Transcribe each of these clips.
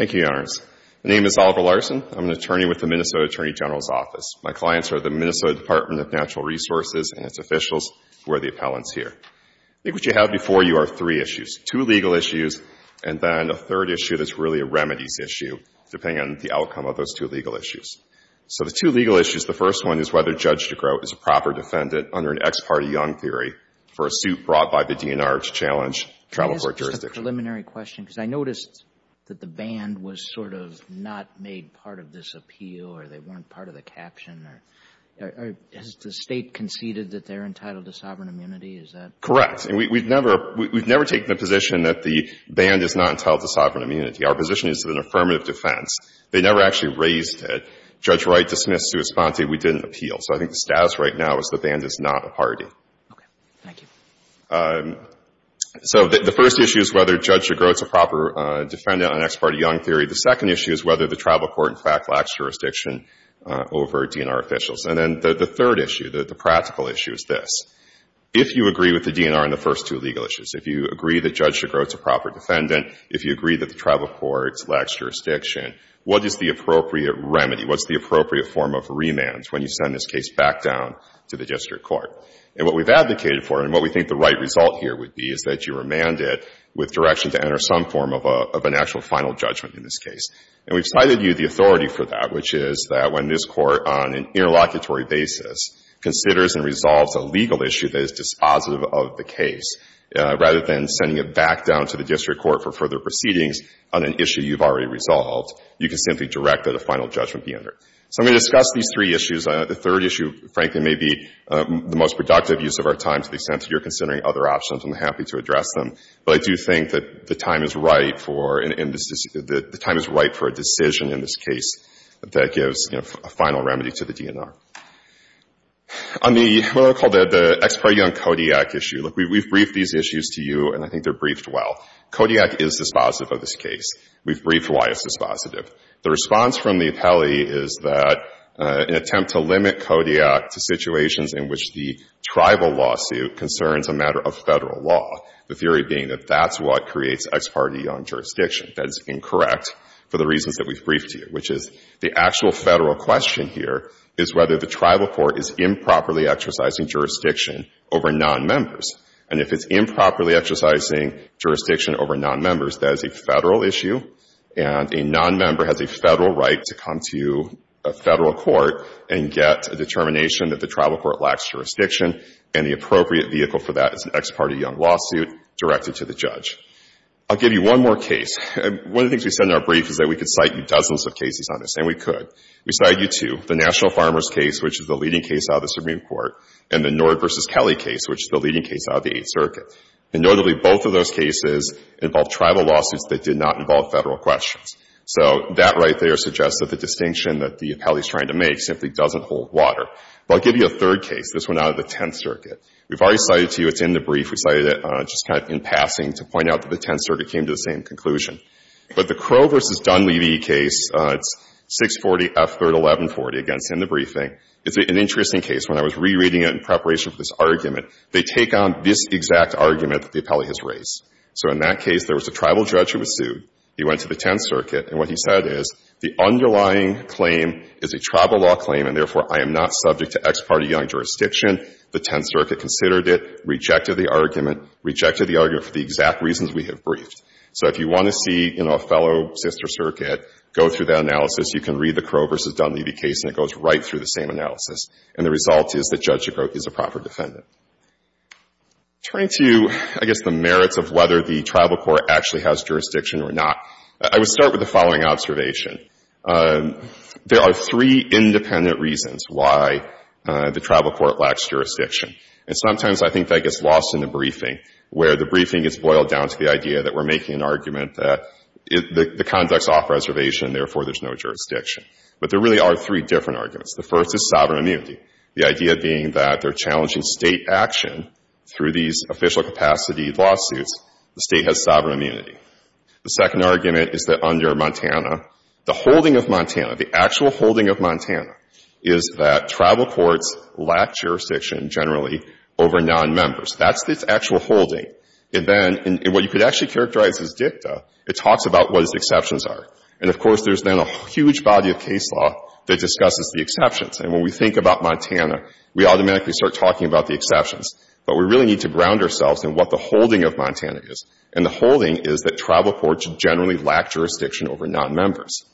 My name is Oliver Larson, I'm an attorney with the Minnesota Attorney General's Office. My clients are the Minnesota Department of Natural Resources and its officials who are the appellants here. I think what you have before you are three issues, two legal issues and then a third issue that's really a remedies issue, depending on the outcome of those two legal issues. So the two legal issues, the first one is whether Judge DeGroat is a proper defendant under an ex parte young theory for a suit brought by the DNR to challenge travel court jurisdiction. I noticed that the band was sort of not made part of this appeal or they weren't part of the caption. Has the State conceded that they're entitled to sovereign immunity? Is that correct? Correct. We've never taken a position that the band is not entitled to sovereign immunity. Our position is an affirmative defense. They never actually raised it. Judge Wright dismissed the response that we didn't appeal. Okay. Thank you. So the first issue is whether Judge DeGroat is a proper defendant on ex parte young theory. The second issue is whether the travel court in fact lacks jurisdiction over DNR officials. And then the third issue, the practical issue is this. If you agree with the DNR on the first two legal issues, if you agree that Judge DeGroat is a proper defendant, if you agree that the travel court lacks jurisdiction, what is the appropriate remedy? What's the appropriate form of remand when you send this case back down to the district court? And what we've advocated for and what we think the right result here would be is that you remand it with direction to enter some form of an actual final judgment in this case. And we've cited you, the authority, for that, which is that when this court on an interlocutory basis considers and resolves a legal issue that is dispositive of the case, rather than sending it back down to the district court for further proceedings on an issue you've already resolved, you can simply direct that a final judgment be entered. So I'm going to discuss these three issues. The third issue, frankly, may be the most productive use of our time to the extent that you're considering other options. I'm happy to address them. But I do think that the time is right for a decision in this case that gives a final remedy to the DNR. On the, what I call the ex pro young Kodiak issue, look, we've briefed these issues to you, and I think they're briefed well. Kodiak is dispositive of this case. We've briefed why it's dispositive. The response from the appellee is that in an attempt to limit Kodiak to situations in which the tribal lawsuit concerns a matter of Federal law, the theory being that that's what creates ex parte young jurisdiction. That's incorrect for the reasons that we've briefed to you, which is the actual Federal question here is whether the tribal court is improperly exercising jurisdiction over nonmembers. And if it's improperly exercising jurisdiction over nonmembers, that is a Federal issue and a nonmember has a Federal right to come to a Federal court and get a determination that the tribal court lacks jurisdiction, and the appropriate vehicle for that is an ex parte young lawsuit directed to the judge. I'll give you one more case. One of the things we said in our brief is that we could cite you dozens of cases on this, and we could. We cited you two, the National Farmers case, which is the leading case out of the Supreme Court, and the Nord v. Kelly case, which is the leading case out of the Eighth Circuit. And notably, both of those cases involved tribal lawsuits that did not involve Federal questions. So that right there suggests that the distinction that the appellee is trying to make simply doesn't hold water. But I'll give you a third case. This one out of the Tenth Circuit. We've already cited to you. It's in the brief. We cited it just kind of in passing to point out that the Tenth Circuit came to the same conclusion. But the Crow v. Dunleavy case, it's 640 F. 3rd, 1140, again, it's in the briefing. It's an interesting case. When I was rereading it in preparation for this argument, they take on this exact argument that the appellee has raised. So in that case, there was a tribal judge who was sued. He went to the Tenth Circuit, and what he said is, the underlying claim is a tribal law claim, and therefore, I am not subject to ex parte young jurisdiction. The Tenth Circuit considered it, rejected the argument, rejected the argument for the exact reasons we have briefed. So if you want to see, you know, a fellow sister circuit, go through that analysis. You can read the Crow v. Dunleavy case, and it goes right through the same analysis. And the result is that Judge DeGroote is a proper defendant. Turning to, I guess, the merits of whether the tribal court actually has jurisdiction or not, I would start with the following observation. There are three independent reasons why the tribal court lacks jurisdiction, and sometimes I think that gets lost in the briefing, where the briefing gets boiled down to the idea that we're making an argument that the conduct's off-reservation, therefore, there's no jurisdiction. But there really are three different arguments. The first is sovereign immunity, the idea being that they're challenging State action through these official capacity lawsuits. The State has sovereign immunity. The second argument is that under Montana, the holding of Montana, the actual holding of Montana is that tribal courts lack jurisdiction generally over nonmembers. That's the actual holding. And then, and what you could actually characterize as dicta, it talks about what its exceptions are. And, of course, there's then a huge body of case law that discusses the exceptions. And when we think about Montana, we automatically start talking about the exceptions. But we really need to ground ourselves in what the holding of Montana is. And the holding is that tribal courts generally lack jurisdiction over nonmembers.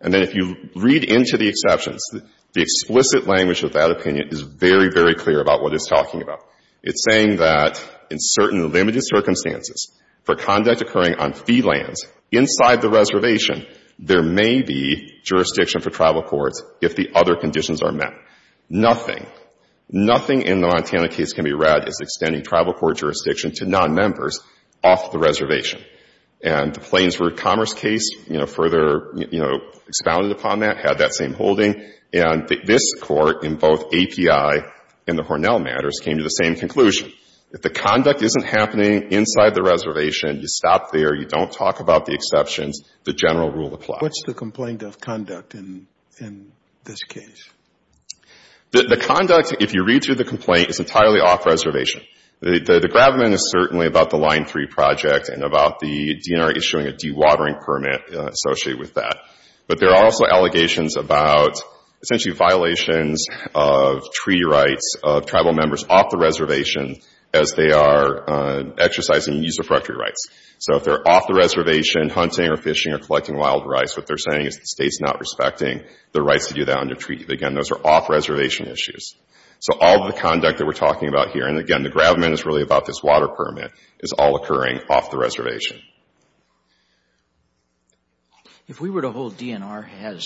And then if you read into the exceptions, the explicit language of that opinion is very, very clear about what it's talking about. It's saying that in certain limited circumstances, for conduct occurring on fee lands inside the reservation, there may be jurisdiction for tribal courts if the other conditions are met. Nothing, nothing in the Montana case can be read as extending tribal court jurisdiction to nonmembers off the reservation. And the Plains Road Commerce case, you know, further, you know, expounded upon that, had that same holding. And this court in both API and the Hornell matters came to the same conclusion. If the conduct isn't happening inside the reservation, you stop there, you don't talk about the exceptions, the general rule applies. What's the complaint of conduct in this case? The conduct, if you read through the complaint, is entirely off reservation. The gravamen is certainly about the Line 3 project and about the DNR issuing a dewatering permit associated with that. But there are also allegations about essentially violations of treaty rights of tribal members off the reservation as they are exercising use of property rights. So if they're off the reservation hunting or fishing or collecting wild rice, what they're saying is the state's not respecting the rights to do that under treaty. Again, those are off-reservation issues. So all the conduct that we're talking about here, and again, the gravamen is really about this water permit, is all occurring off the reservation. If we were to hold DNR has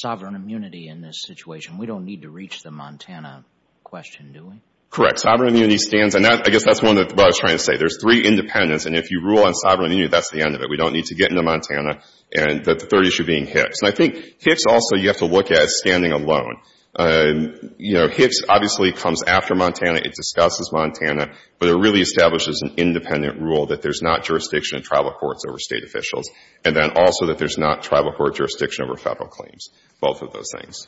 sovereign immunity in this situation, we don't need to reach the Montana question, do we? Correct. Sovereign immunity stands, and I guess that's what I was trying to say. There's three independents, and if you rule on sovereign immunity, that's the end of it. We don't need to get into Montana and the third issue being HIFS. And I think HIFS also you have to look at standing alone. You know, HIFS obviously comes after Montana. It discusses Montana, but it really establishes an independent rule that there's not jurisdiction in tribal courts over state officials, and then also that there's not tribal court jurisdiction over federal claims, both of those things.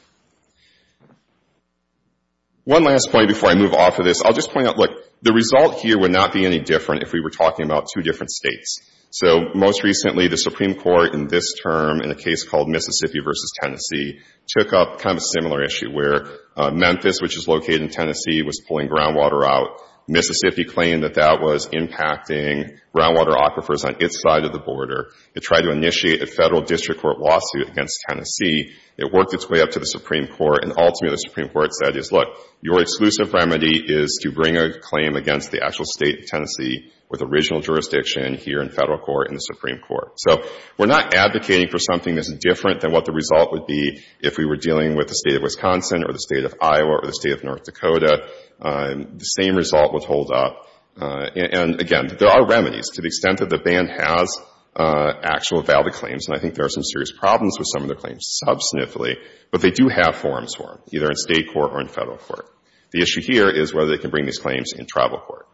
One last point before I move off of this, I'll just point out, look, the result here would not be any different if we were talking about two different states. So most recently, the Supreme Court in this term in a case called Mississippi v. Tennessee took up kind of a similar issue where Memphis, which is located in Tennessee, was pulling groundwater out. Mississippi claimed that that was impacting groundwater aquifers on its side of the border. It tried to initiate a federal district court lawsuit against Tennessee. It worked its way up to the Supreme Court, and ultimately the Supreme Court said, look, your exclusive remedy is to bring a claim against the actual state of Tennessee with original jurisdiction here in federal court in the Supreme Court. So we're not advocating for something that's different than what the result would be if we were dealing with the state of Wisconsin or the state of Iowa or the state of North Dakota. The same result would hold up. And again, there are remedies to the extent that the ban has actual valid claims, and I think there are some serious problems with some of the claims substantively, but they do have forms for them, either in state court or in federal court. The issue here is whether they can bring these claims in tribal court.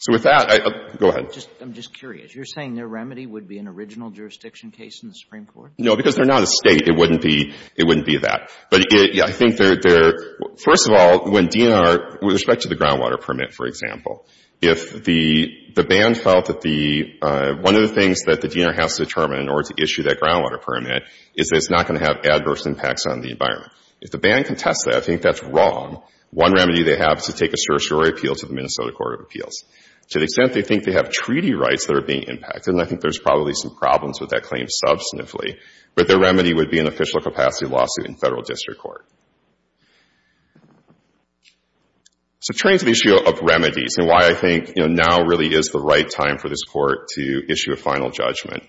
So with that, go ahead. I'm just curious. You're saying their remedy would be an original jurisdiction case in the Supreme Court? No, because they're not a state. It wouldn't be that. But I think they're — first of all, when DNR, with respect to the groundwater permit, for example, if the ban felt that the — one of the things that the DNR has to determine in order to issue that groundwater permit is that it's not going to have adverse impacts on the environment. If the ban contests that, I think that's wrong. One remedy they have is to take a certiorari appeal to the Minnesota Court of Appeals. To the extent they think they have treaty rights that are being impacted, and I think there's probably some problems with that claim substantively, but their remedy would be an official capacity lawsuit in federal district court. So turning to the issue of remedies and why I think, you know, now really is the right time for this Court to issue a final judgment,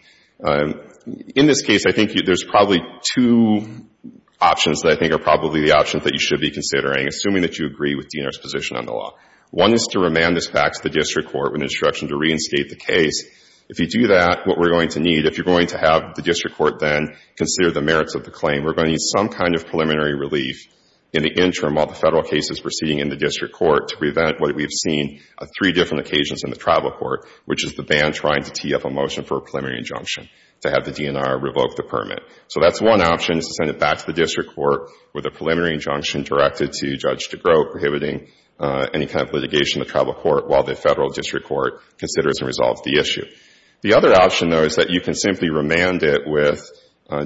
in this case, I think there's probably two options that I think are probably the options that you should be considering, assuming that you agree with DNR's position on the law. One is to remand this back to the district court with instruction to reinstate the case. If you do that, what we're going to need — if you're going to have the district court then consider the merits of the claim, we're going to need some kind of preliminary relief in the interim while the federal case is proceeding in the district court to prevent what we've seen on three different occasions in the tribal court, which is the ban trying to tee up a motion for a preliminary injunction to have the DNR revoke the permit. So that's one option, is to send it back to the district court with a preliminary injunction directed to Judge DeGroote prohibiting any kind of litigation in the tribal court while the federal district court considers and resolves the issue. The other option, though, is that you can simply remand it with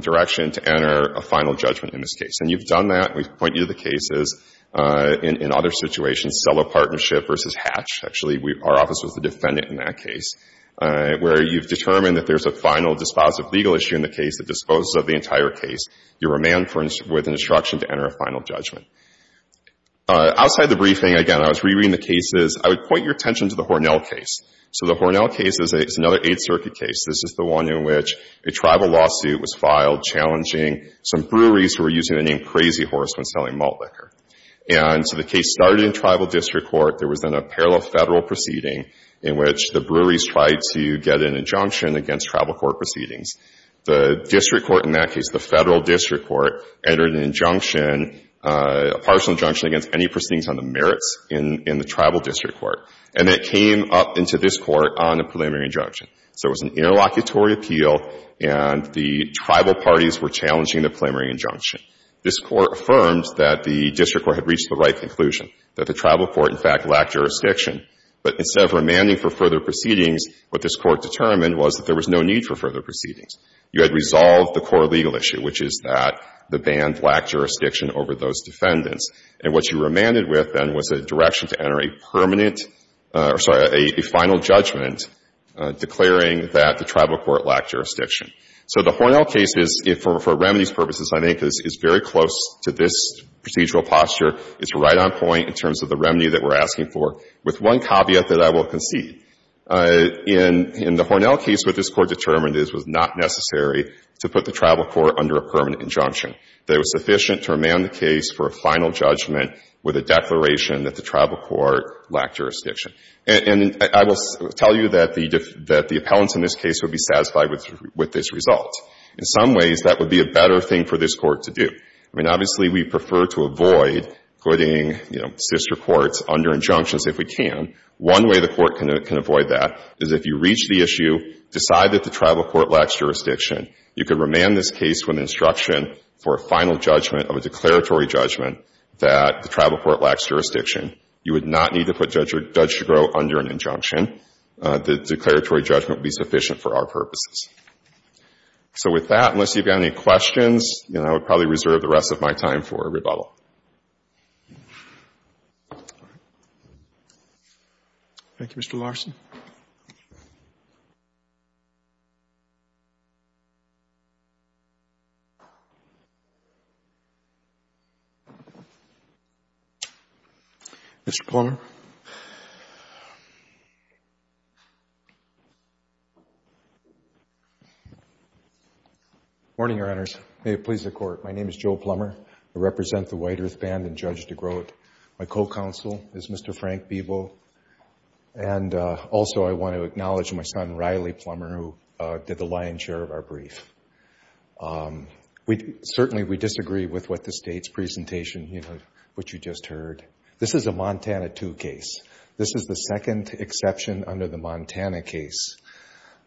direction to enter a final judgment in this case. And you've done that. We've pointed to the cases in other situations, Sello Partnership versus Hatch, actually. Our office was the defendant in that case, where you've determined that there's a final dispositive legal issue in the case that disposes of the entire case. You remand with an instruction to enter a final judgment. Outside the briefing, again, I was rereading the cases. I would point your attention to the Hornell case. So the Hornell case is another Eighth Circuit case. This is the one in which a tribal lawsuit was filed challenging some breweries who were using the name Crazy Horse when selling malt liquor. And so the case started in tribal district court. There was then a parallel federal proceeding in which the breweries tried to get an injunction against tribal court proceedings. The district court in that case, the federal district court, entered an injunction, a partial injunction against any proceedings on the merits in the tribal district court. And it came up into this court on a preliminary injunction. So it was an interlocutory appeal, and the tribal parties were challenging the preliminary injunction. This court affirmed that the district court had reached the right conclusion, that the tribal court, in fact, lacked jurisdiction. But instead of remanding for further proceedings, what this court determined was that there was no need for further proceedings. You had resolved the core legal issue, which is that the band lacked jurisdiction over those defendants. And what you remanded with, then, was a direction to enter a permanent or, sorry, a final judgment declaring that the tribal court lacked jurisdiction. So the Hornell case is, for remedies purposes, I think, is very close to this procedural posture. It's right on point in terms of the remedy that we're asking for, with one caveat that I will concede. In the Hornell case, what this court determined is it was not necessary to put the tribal court under a permanent injunction. It was sufficient to remand the case for a final judgment with a declaration that the tribal court lacked jurisdiction. And I will tell you that the appellants in this case would be satisfied with this result. In some ways, that would be a better thing for this court to do. I mean, obviously, we prefer to avoid putting, you know, sister courts under injunctions if we can. One way the court can avoid that is if you reach the issue, decide that the tribal court lacks jurisdiction, you can remand this case with an instruction for a final judgment of a declaratory judgment that the tribal court lacks jurisdiction. You would not need to put Judge Chigrow under an injunction. The declaratory judgment would be sufficient for our purposes. So with that, unless you've got any questions, you know, I would probably reserve the rest of my time for rebuttal. Thank you, Mr. Larson. Mr. Plummer. Morning, Your Honors. May it please the Court. My name is Joe Plummer. I represent the White Earth Band and Judge DeGroote. My co-counsel is Mr. Frank Bebo, and also, I want to acknowledge my son, Riley Plummer, who did the lion's share of our brief. Certainly, we disagree with what the State's presentation, you know, what you just heard. This is a Montana II case. This is the second exception under the Montana case.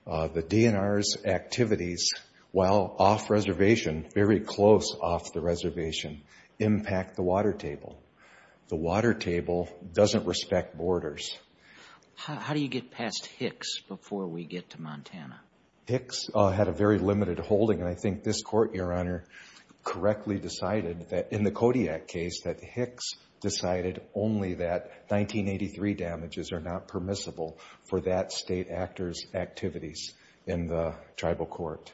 The DNR's activities while off-reservation, very close off the reservation, impact the water table, doesn't respect borders. How do you get past Hicks before we get to Montana? Hicks had a very limited holding, and I think this Court, Your Honor, correctly decided that in the Kodiak case, that Hicks decided only that 1983 damages are not permissible for that State actor's activities in the tribal court.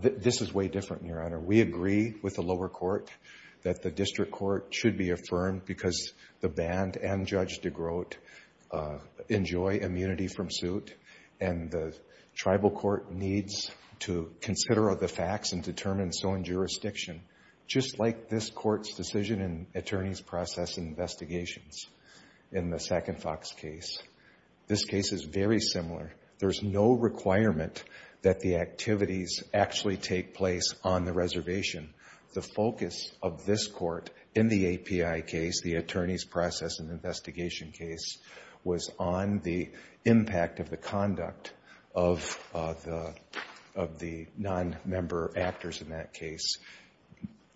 This is way different, Your Honor. We agree with the lower court that the district court should be affirmed because the Band and Judge DeGroote enjoy immunity from suit, and the tribal court needs to consider the facts and determine so in jurisdiction, just like this Court's decision in attorney's process investigations in the Second Fox case. This case is very similar. There's no requirement that the activities actually take place on the reservation. The focus of this Court in the API case, the attorney's process and investigation case, was on the impact of the conduct of the non-member actors in that case.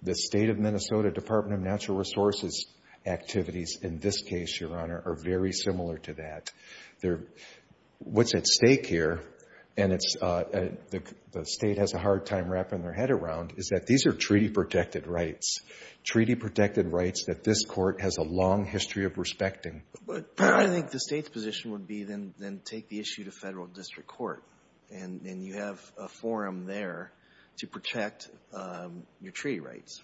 The State of Minnesota Department of Natural Resources activities in this case, Your Honor, are very similar to that. What's at stake here, and the State has a hard time wrapping their head around, is that these are treaty-protected rights, treaty-protected rights that this Court has a long history of respecting. But I think the State's position would be, then, take the issue to federal district court, and you have a forum there to protect your treaty rights.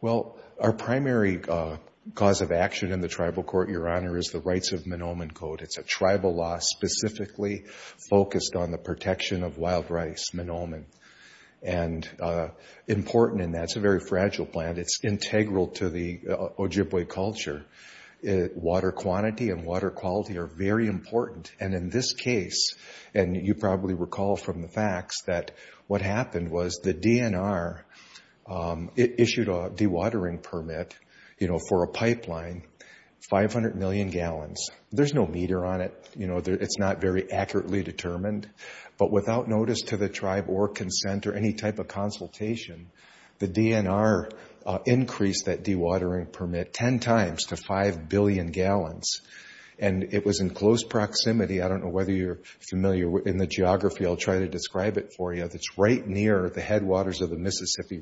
Well, our primary cause of action in the tribal court, Your Honor, is the Rights of Tribal Law, specifically focused on the protection of wild rice, manoomin. And important, and that's a very fragile plant. It's integral to the Ojibwe culture. Water quantity and water quality are very important. And in this case, and you probably recall from the facts, that what happened was the DNR issued a dewatering permit for a pipeline, 500 million gallons. There's no meter on it, you know, it's not very accurately determined, but without notice to the tribe or consent or any type of consultation, the DNR increased that dewatering permit 10 times to 5 billion gallons. And it was in close proximity, I don't know whether you're familiar in the geography, I'll try to describe it for you, that's right near the headwaters of the Mississippi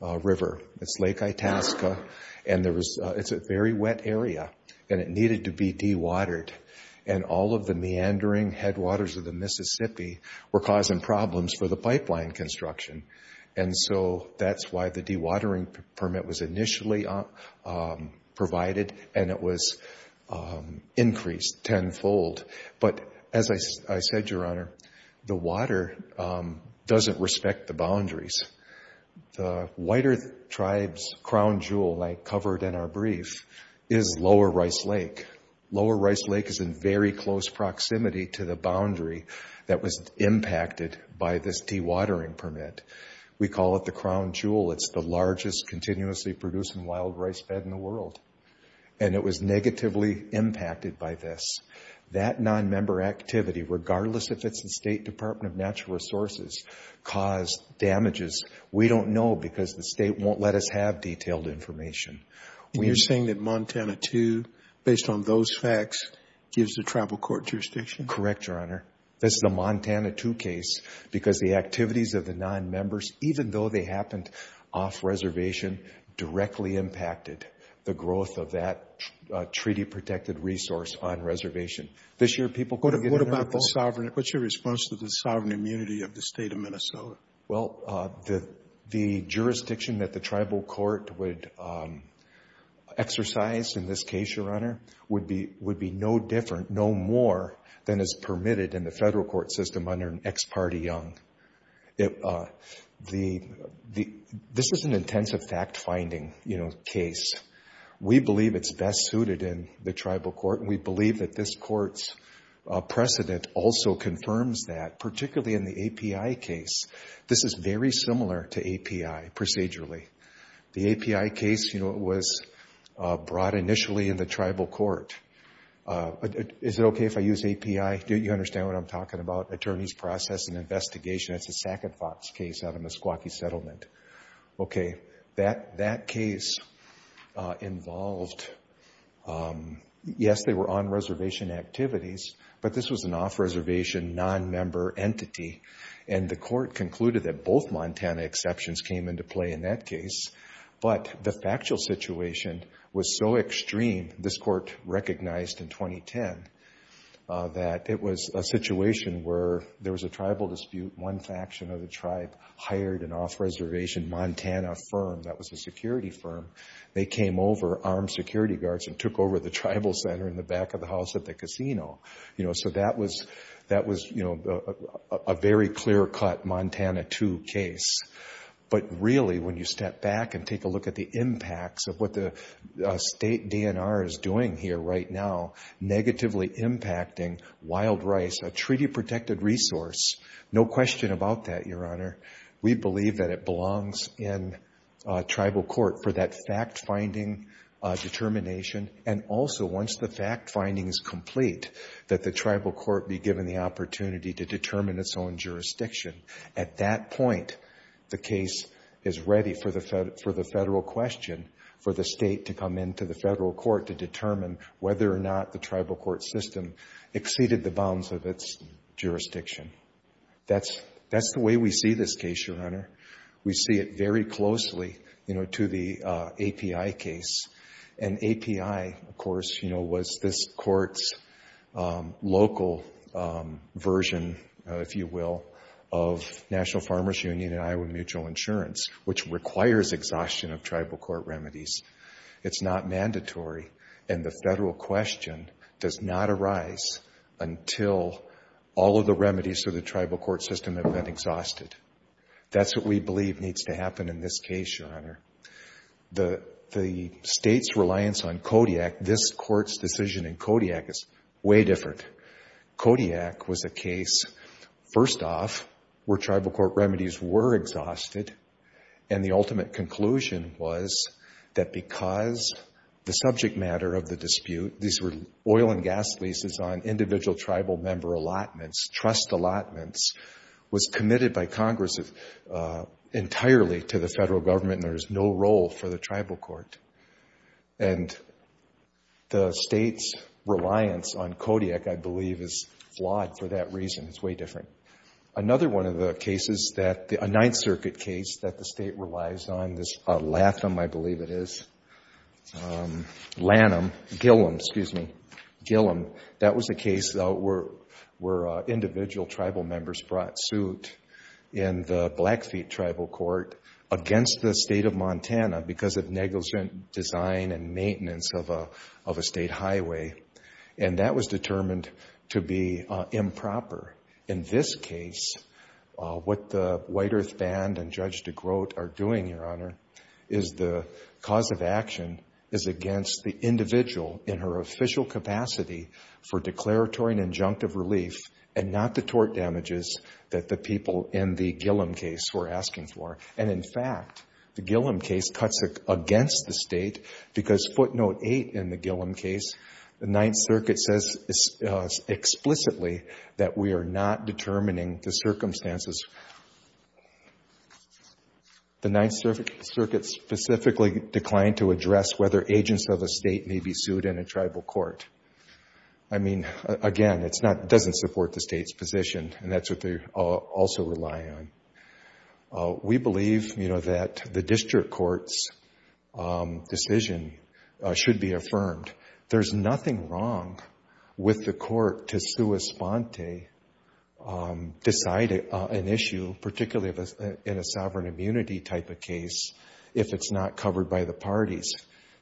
River. It's Lake Itasca. And it's a very wet area and it needed to be dewatered. And all of the meandering headwaters of the Mississippi were causing problems for the pipeline construction. And so that's why the dewatering permit was initially provided and it was increased tenfold. But as I said, Your Honor, the water doesn't respect the boundaries. The wider tribe's crown jewel, like covered in our brief, is Lower Rice Lake. Lower Rice Lake is in very close proximity to the boundary that was impacted by this dewatering permit. We call it the crown jewel. It's the largest continuously producing wild rice bed in the world. And it was negatively impacted by this. That non-member activity, regardless if it's the State Department of Natural Resources, caused damages, we don't know because the State won't let us have detailed information. And you're saying that Montana II, based on those facts, gives the tribal court jurisdiction? Correct, Your Honor. This is a Montana II case because the activities of the non-members, even though they happened off-reservation, directly impacted the growth of that treaty-protected resource on reservation. This year, people couldn't get in or out of the boat. What's your response to the sovereign immunity of the State of Minnesota? Well, the jurisdiction that the tribal court would exercise in this case, Your Honor, would be no different, no more, than is permitted in the federal court system under an ex parte young. This is an intensive fact-finding case. We believe it's best suited in the tribal court. We believe that this court's precedent also confirms that, particularly in the API case. This is very similar to API, procedurally. The API case was brought initially in the tribal court. Is it OK if I use API? Do you understand what I'm talking about? Attorneys process an investigation. That's a Sac and Fox case out of Meskwaki Settlement. OK, that case involved, yes, they were on-reservation activities, but this was an off-reservation, non-member entity, and the court concluded that both Montana exceptions came into play in that case. But the factual situation was so extreme, this court recognized in 2010, that it was a situation where there was a tribal dispute. One faction of the tribe hired an off-reservation Montana firm that was a security firm. They came over, armed security guards, and took over the tribal center in the back of the house at the casino. So that was a very clear-cut Montana II case. But really, when you step back and take a look at the impacts of what the state DNR is doing here right now, negatively impacting wild rice, a treaty-protected resource, no question about that, Your Honor. We believe that it belongs in tribal court for that fact-finding determination. And also, once the fact-finding is complete, that the tribal court be given the opportunity to determine its own jurisdiction. At that point, the case is ready for the federal question, for the state to come into the federal court to determine whether or not the tribal court system exceeded the bounds of its jurisdiction. That's the way we see this case, Your Honor. We see it very closely, you know, to the API case. And API, of course, you know, was this court's local version, if you will, of National Farmers Union and Iowa Mutual Insurance, which requires exhaustion of tribal court remedies. It's not mandatory. And the federal question does not arise until all of the remedies to the tribal court system have been exhausted. That's what we believe needs to happen in this case, Your Honor. The state's reliance on Kodiak, this court's decision in Kodiak, is way different. Kodiak was a case, first off, where tribal court remedies were exhausted. And the ultimate conclusion was that because the subject matter of the dispute, these were oil and gas leases on individual tribal member allotments, trust allotments, was committed by Congress entirely to the federal government and there is no role for the tribal court. And the state's reliance on Kodiak, I believe, is flawed for that reason. It's way different. Another one of the cases, a Ninth Circuit case that the state relies on, this Latham, I believe it is, Lanham, Gillum, excuse me, Gillum, that was a case where individual tribal members brought suit in the Blackfeet tribal court against the state of Montana because of negligent design and maintenance of a state highway. And that was determined to be improper. In this case, what the White Earth Band and Judge DeGroat are doing, Your Honor, is the cause of action is against the individual in her official capacity for declaratory and injunctive relief and not the tort damages that the people in the Gillum case were asking for. And in fact, the Gillum case cuts against the state because footnote 8 in that we are not determining the circumstances. The Ninth Circuit specifically declined to address whether agents of a state may be sued in a tribal court. I mean, again, it doesn't support the state's position and that's what they also rely on. We believe that the district court's decision should be affirmed. There's nothing wrong with the court to sua sponte, decide an issue, particularly in a sovereign immunity type of case, if it's not covered by the parties.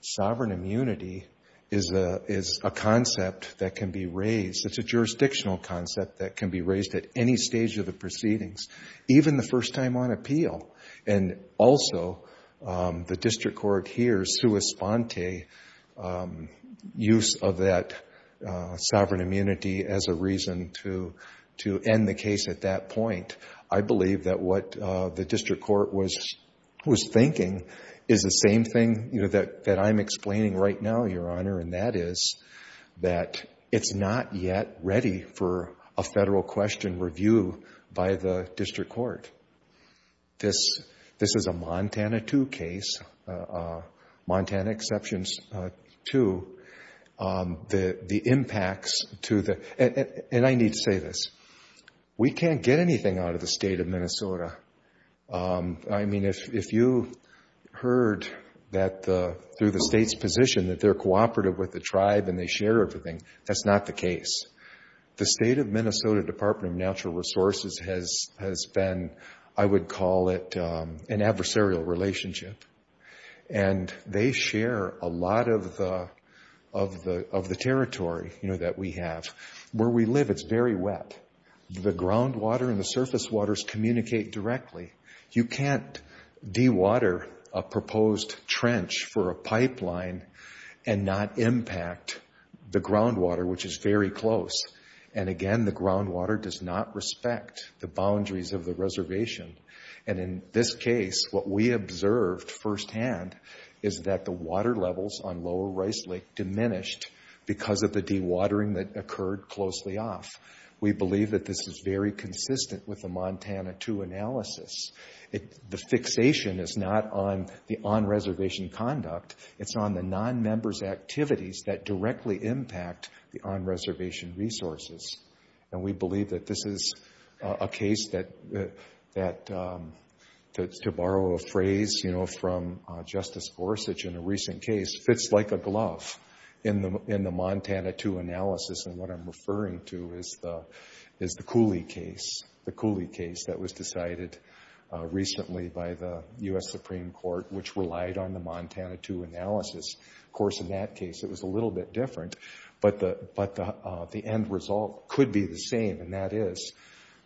Sovereign immunity is a concept that can be raised. It's a jurisdictional concept that can be raised at any stage of the proceedings, even the first time on appeal. And also, the district court hears sua sponte use of that sovereign immunity as a reason to end the case at that point. I believe that what the district court was thinking is the same thing that I'm explaining right now, Your Honor, and that is that it's not yet ready for a federal question review by the district court. This is a Montana II case, Montana Exceptions II, the impacts to the, and I need to say this, we can't get anything out of the state of Minnesota. I mean, if you heard that through the state's position that they're cooperative with the tribe and they share everything, that's not the case. The state of Minnesota Department of Natural Resources has been, I would call it an adversarial relationship, and they share a lot of the territory, you know, that we have. Where we live, it's very wet. The groundwater and the surface waters communicate directly. You can't dewater a proposed trench for a pipeline and not impact the groundwater, which is very close. And again, the groundwater does not respect the boundaries of the reservation. And in this case, what we observed firsthand is that the water levels on Lower Rice Lake diminished because of the dewatering that occurred closely off. We believe that this is very consistent with the Montana II analysis. The fixation is not on the on-reservation conduct. It's on the non-members' activities that directly impact the on-reservation resources. And we believe that this is a case that, to borrow a phrase from Justice Gorsuch in a recent case, fits like a glove in the Montana II analysis. And what I'm referring to is the Cooley case that was decided recently by the U.S. Supreme Court, which relied on the Montana II analysis. Of course, in that case, it was a little bit different. But the end result could be the same, and that is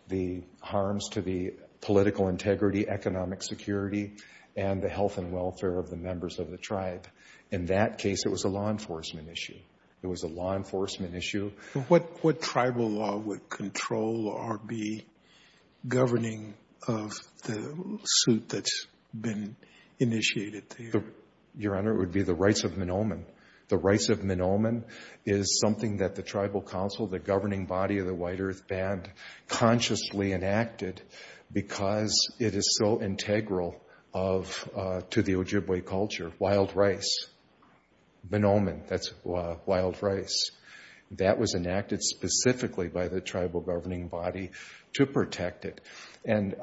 the harms to the political integrity, economic security, and the health and welfare of the members of the tribe. In that case, it was a law enforcement issue. It was a law enforcement issue. What tribal law would control or be governing of the suit that's been initiated? Your Honor, it would be the rights of Menomine. The rights of Menomine is something that the Tribal Council, the governing body of the White Earth Band, consciously enacted because it is so integral to the Ojibwe culture, wild rice, Menomine, that's wild rice. That was enacted specifically by the tribal governing body to protect it. And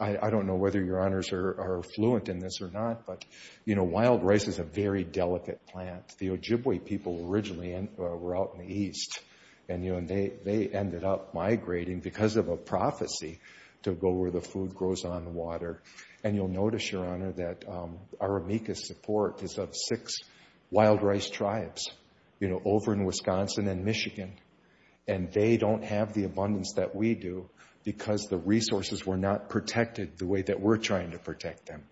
I don't know whether Your Honors are fluent in this or not, but wild rice is a very delicate plant. The Ojibwe people originally were out in the east, and they ended up migrating because of a prophecy to go where the food grows on the water. And you'll notice, Your Honor, that our amicus support is of six wild rice tribes over in Wisconsin and Michigan, and they don't have the abundance that we do because the resources were not protected the way that we're trying to protect them.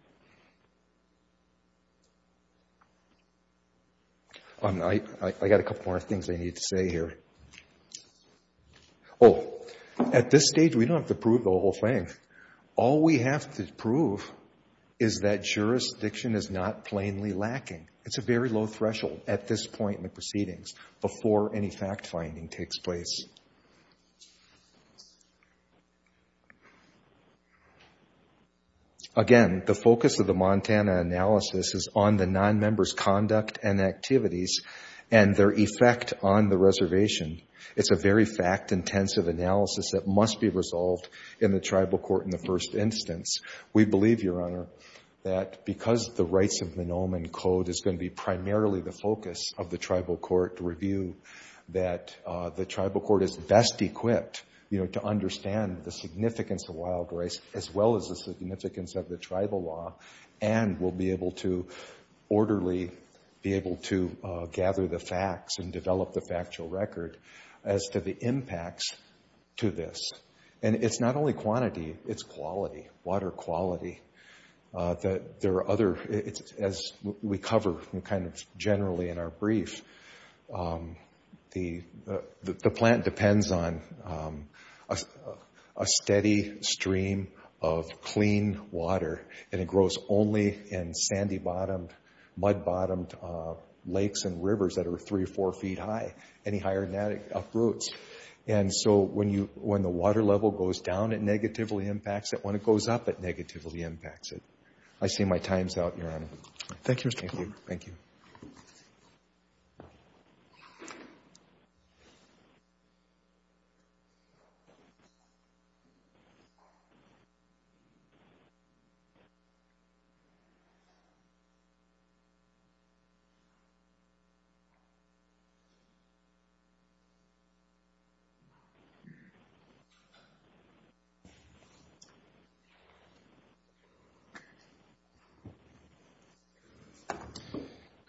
I got a couple more things I need to say here. Oh, at this stage, we don't have to prove the whole thing. All we have to prove is that jurisdiction is not plainly lacking. It's a very low threshold at this point in the proceedings before any fact-finding takes place. Again, the focus of the Montana analysis is on the non-members' conduct and activities and their effect on the reservation. It's a very fact-intensive analysis that must be resolved in the tribal court in the first instance. We believe, Your Honor, that because the Rights of the Nomen Code is going to be primarily the focus of the tribal court review, that the tribal court is best equipped, you know, to understand the significance of wild rice as well as the significance of the tribal law and will be able to orderly be able to gather the facts and develop the factual record as to the impacts to this. And it's not only quantity, it's quality, water quality. That there are other, as we cover kind of generally in our brief, the plant depends on a steady stream of clean water and it grows only in sandy-bottomed, mud-bottomed lakes and rivers that are three or four feet high, any higher than that it uproots. And so when you, when the water level goes down, it negatively impacts it. When it goes up, it negatively impacts it. I see my time's out, Your Honor. Thank you, Mr. Plouffe. Thank you.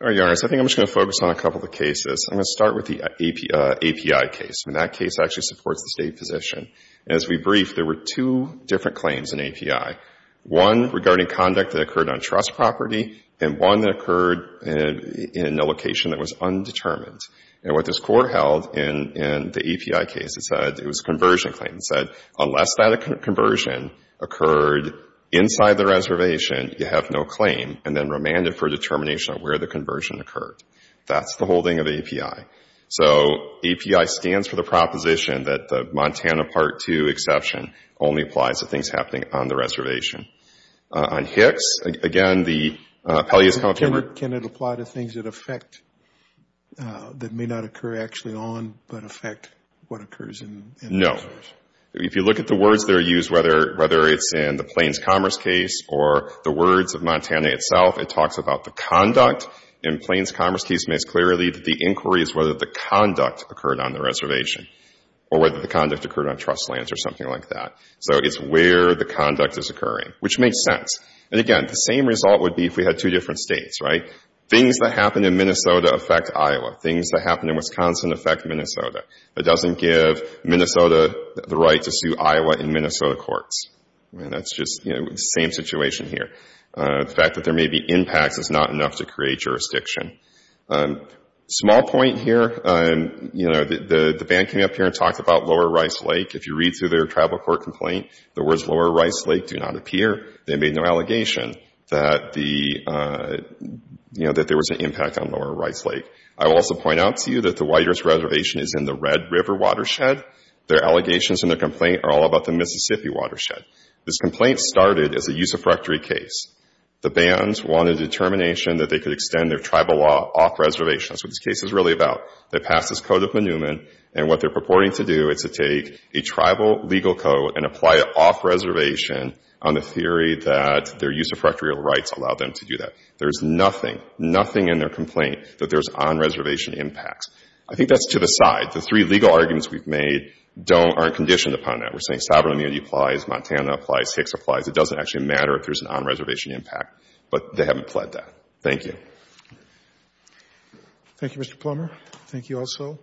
All right, Your Honor, so I think I'm just going to focus on a couple of the cases. I'm going to start with the API case. I mean, that case actually supports the State position. As we briefed, there were two different claims in API, one regarding conduct that occurred on trust property and one that occurred in a location that was undetermined. And what this court held in the API case, it said, it was a conversion claim. It said, unless that conversion occurred inside the reservation, you have no claim and then remanded for determination of where the conversion occurred. That's the holding of API. So API stands for the proposition that the Montana Part 2 exception only applies to things happening on the reservation. On HICS, again, the Appellate Use Comprehensive Recovery— Or can it apply to things that affect, that may not occur actually on, but affect what occurs in the reservation? No. If you look at the words that are used, whether it's in the Plains Commerce case or the words of Montana itself, it talks about the conduct. In Plains Commerce case, it makes clear that the inquiry is whether the conduct occurred on the reservation or whether the conduct occurred on trust lands or something like that. So it's where the conduct is occurring, which makes sense. And again, the same result would be if we had two different states, right? Things that happen in Minnesota affect Iowa. Things that happen in Wisconsin affect Minnesota. It doesn't give Minnesota the right to sue Iowa in Minnesota courts. I mean, that's just, you know, the same situation here. The fact that there may be impacts is not enough to create jurisdiction. Small point here, you know, the band came up here and talked about Lower Rice Lake. If you read through their tribal court complaint, the words Lower Rice Lake do not appear. They made no allegation that the, you know, that there was an impact on Lower Rice Lake. I will also point out to you that the Whitehorse Reservation is in the Red River Watershed. Their allegations and their complaint are all about the Mississippi Watershed. This complaint started as a usurpatory case. The bans wanted a determination that they could extend their tribal law off-reservation. That's what this case is really about. They passed this Code of Newman. And what they're purporting to do is to take a tribal legal code and apply it off-reservation on the theory that their usurpatory rights allowed them to do that. There's nothing, nothing in their complaint that there's on-reservation impacts. I think that's to the side. The three legal arguments we've made don't, aren't conditioned upon that. We're saying sovereign immunity applies, Montana applies, Hicks applies. It doesn't actually matter if there's an on-reservation impact. But they haven't pled that. Thank you. Thank you, Mr. Plummer. Thank you also.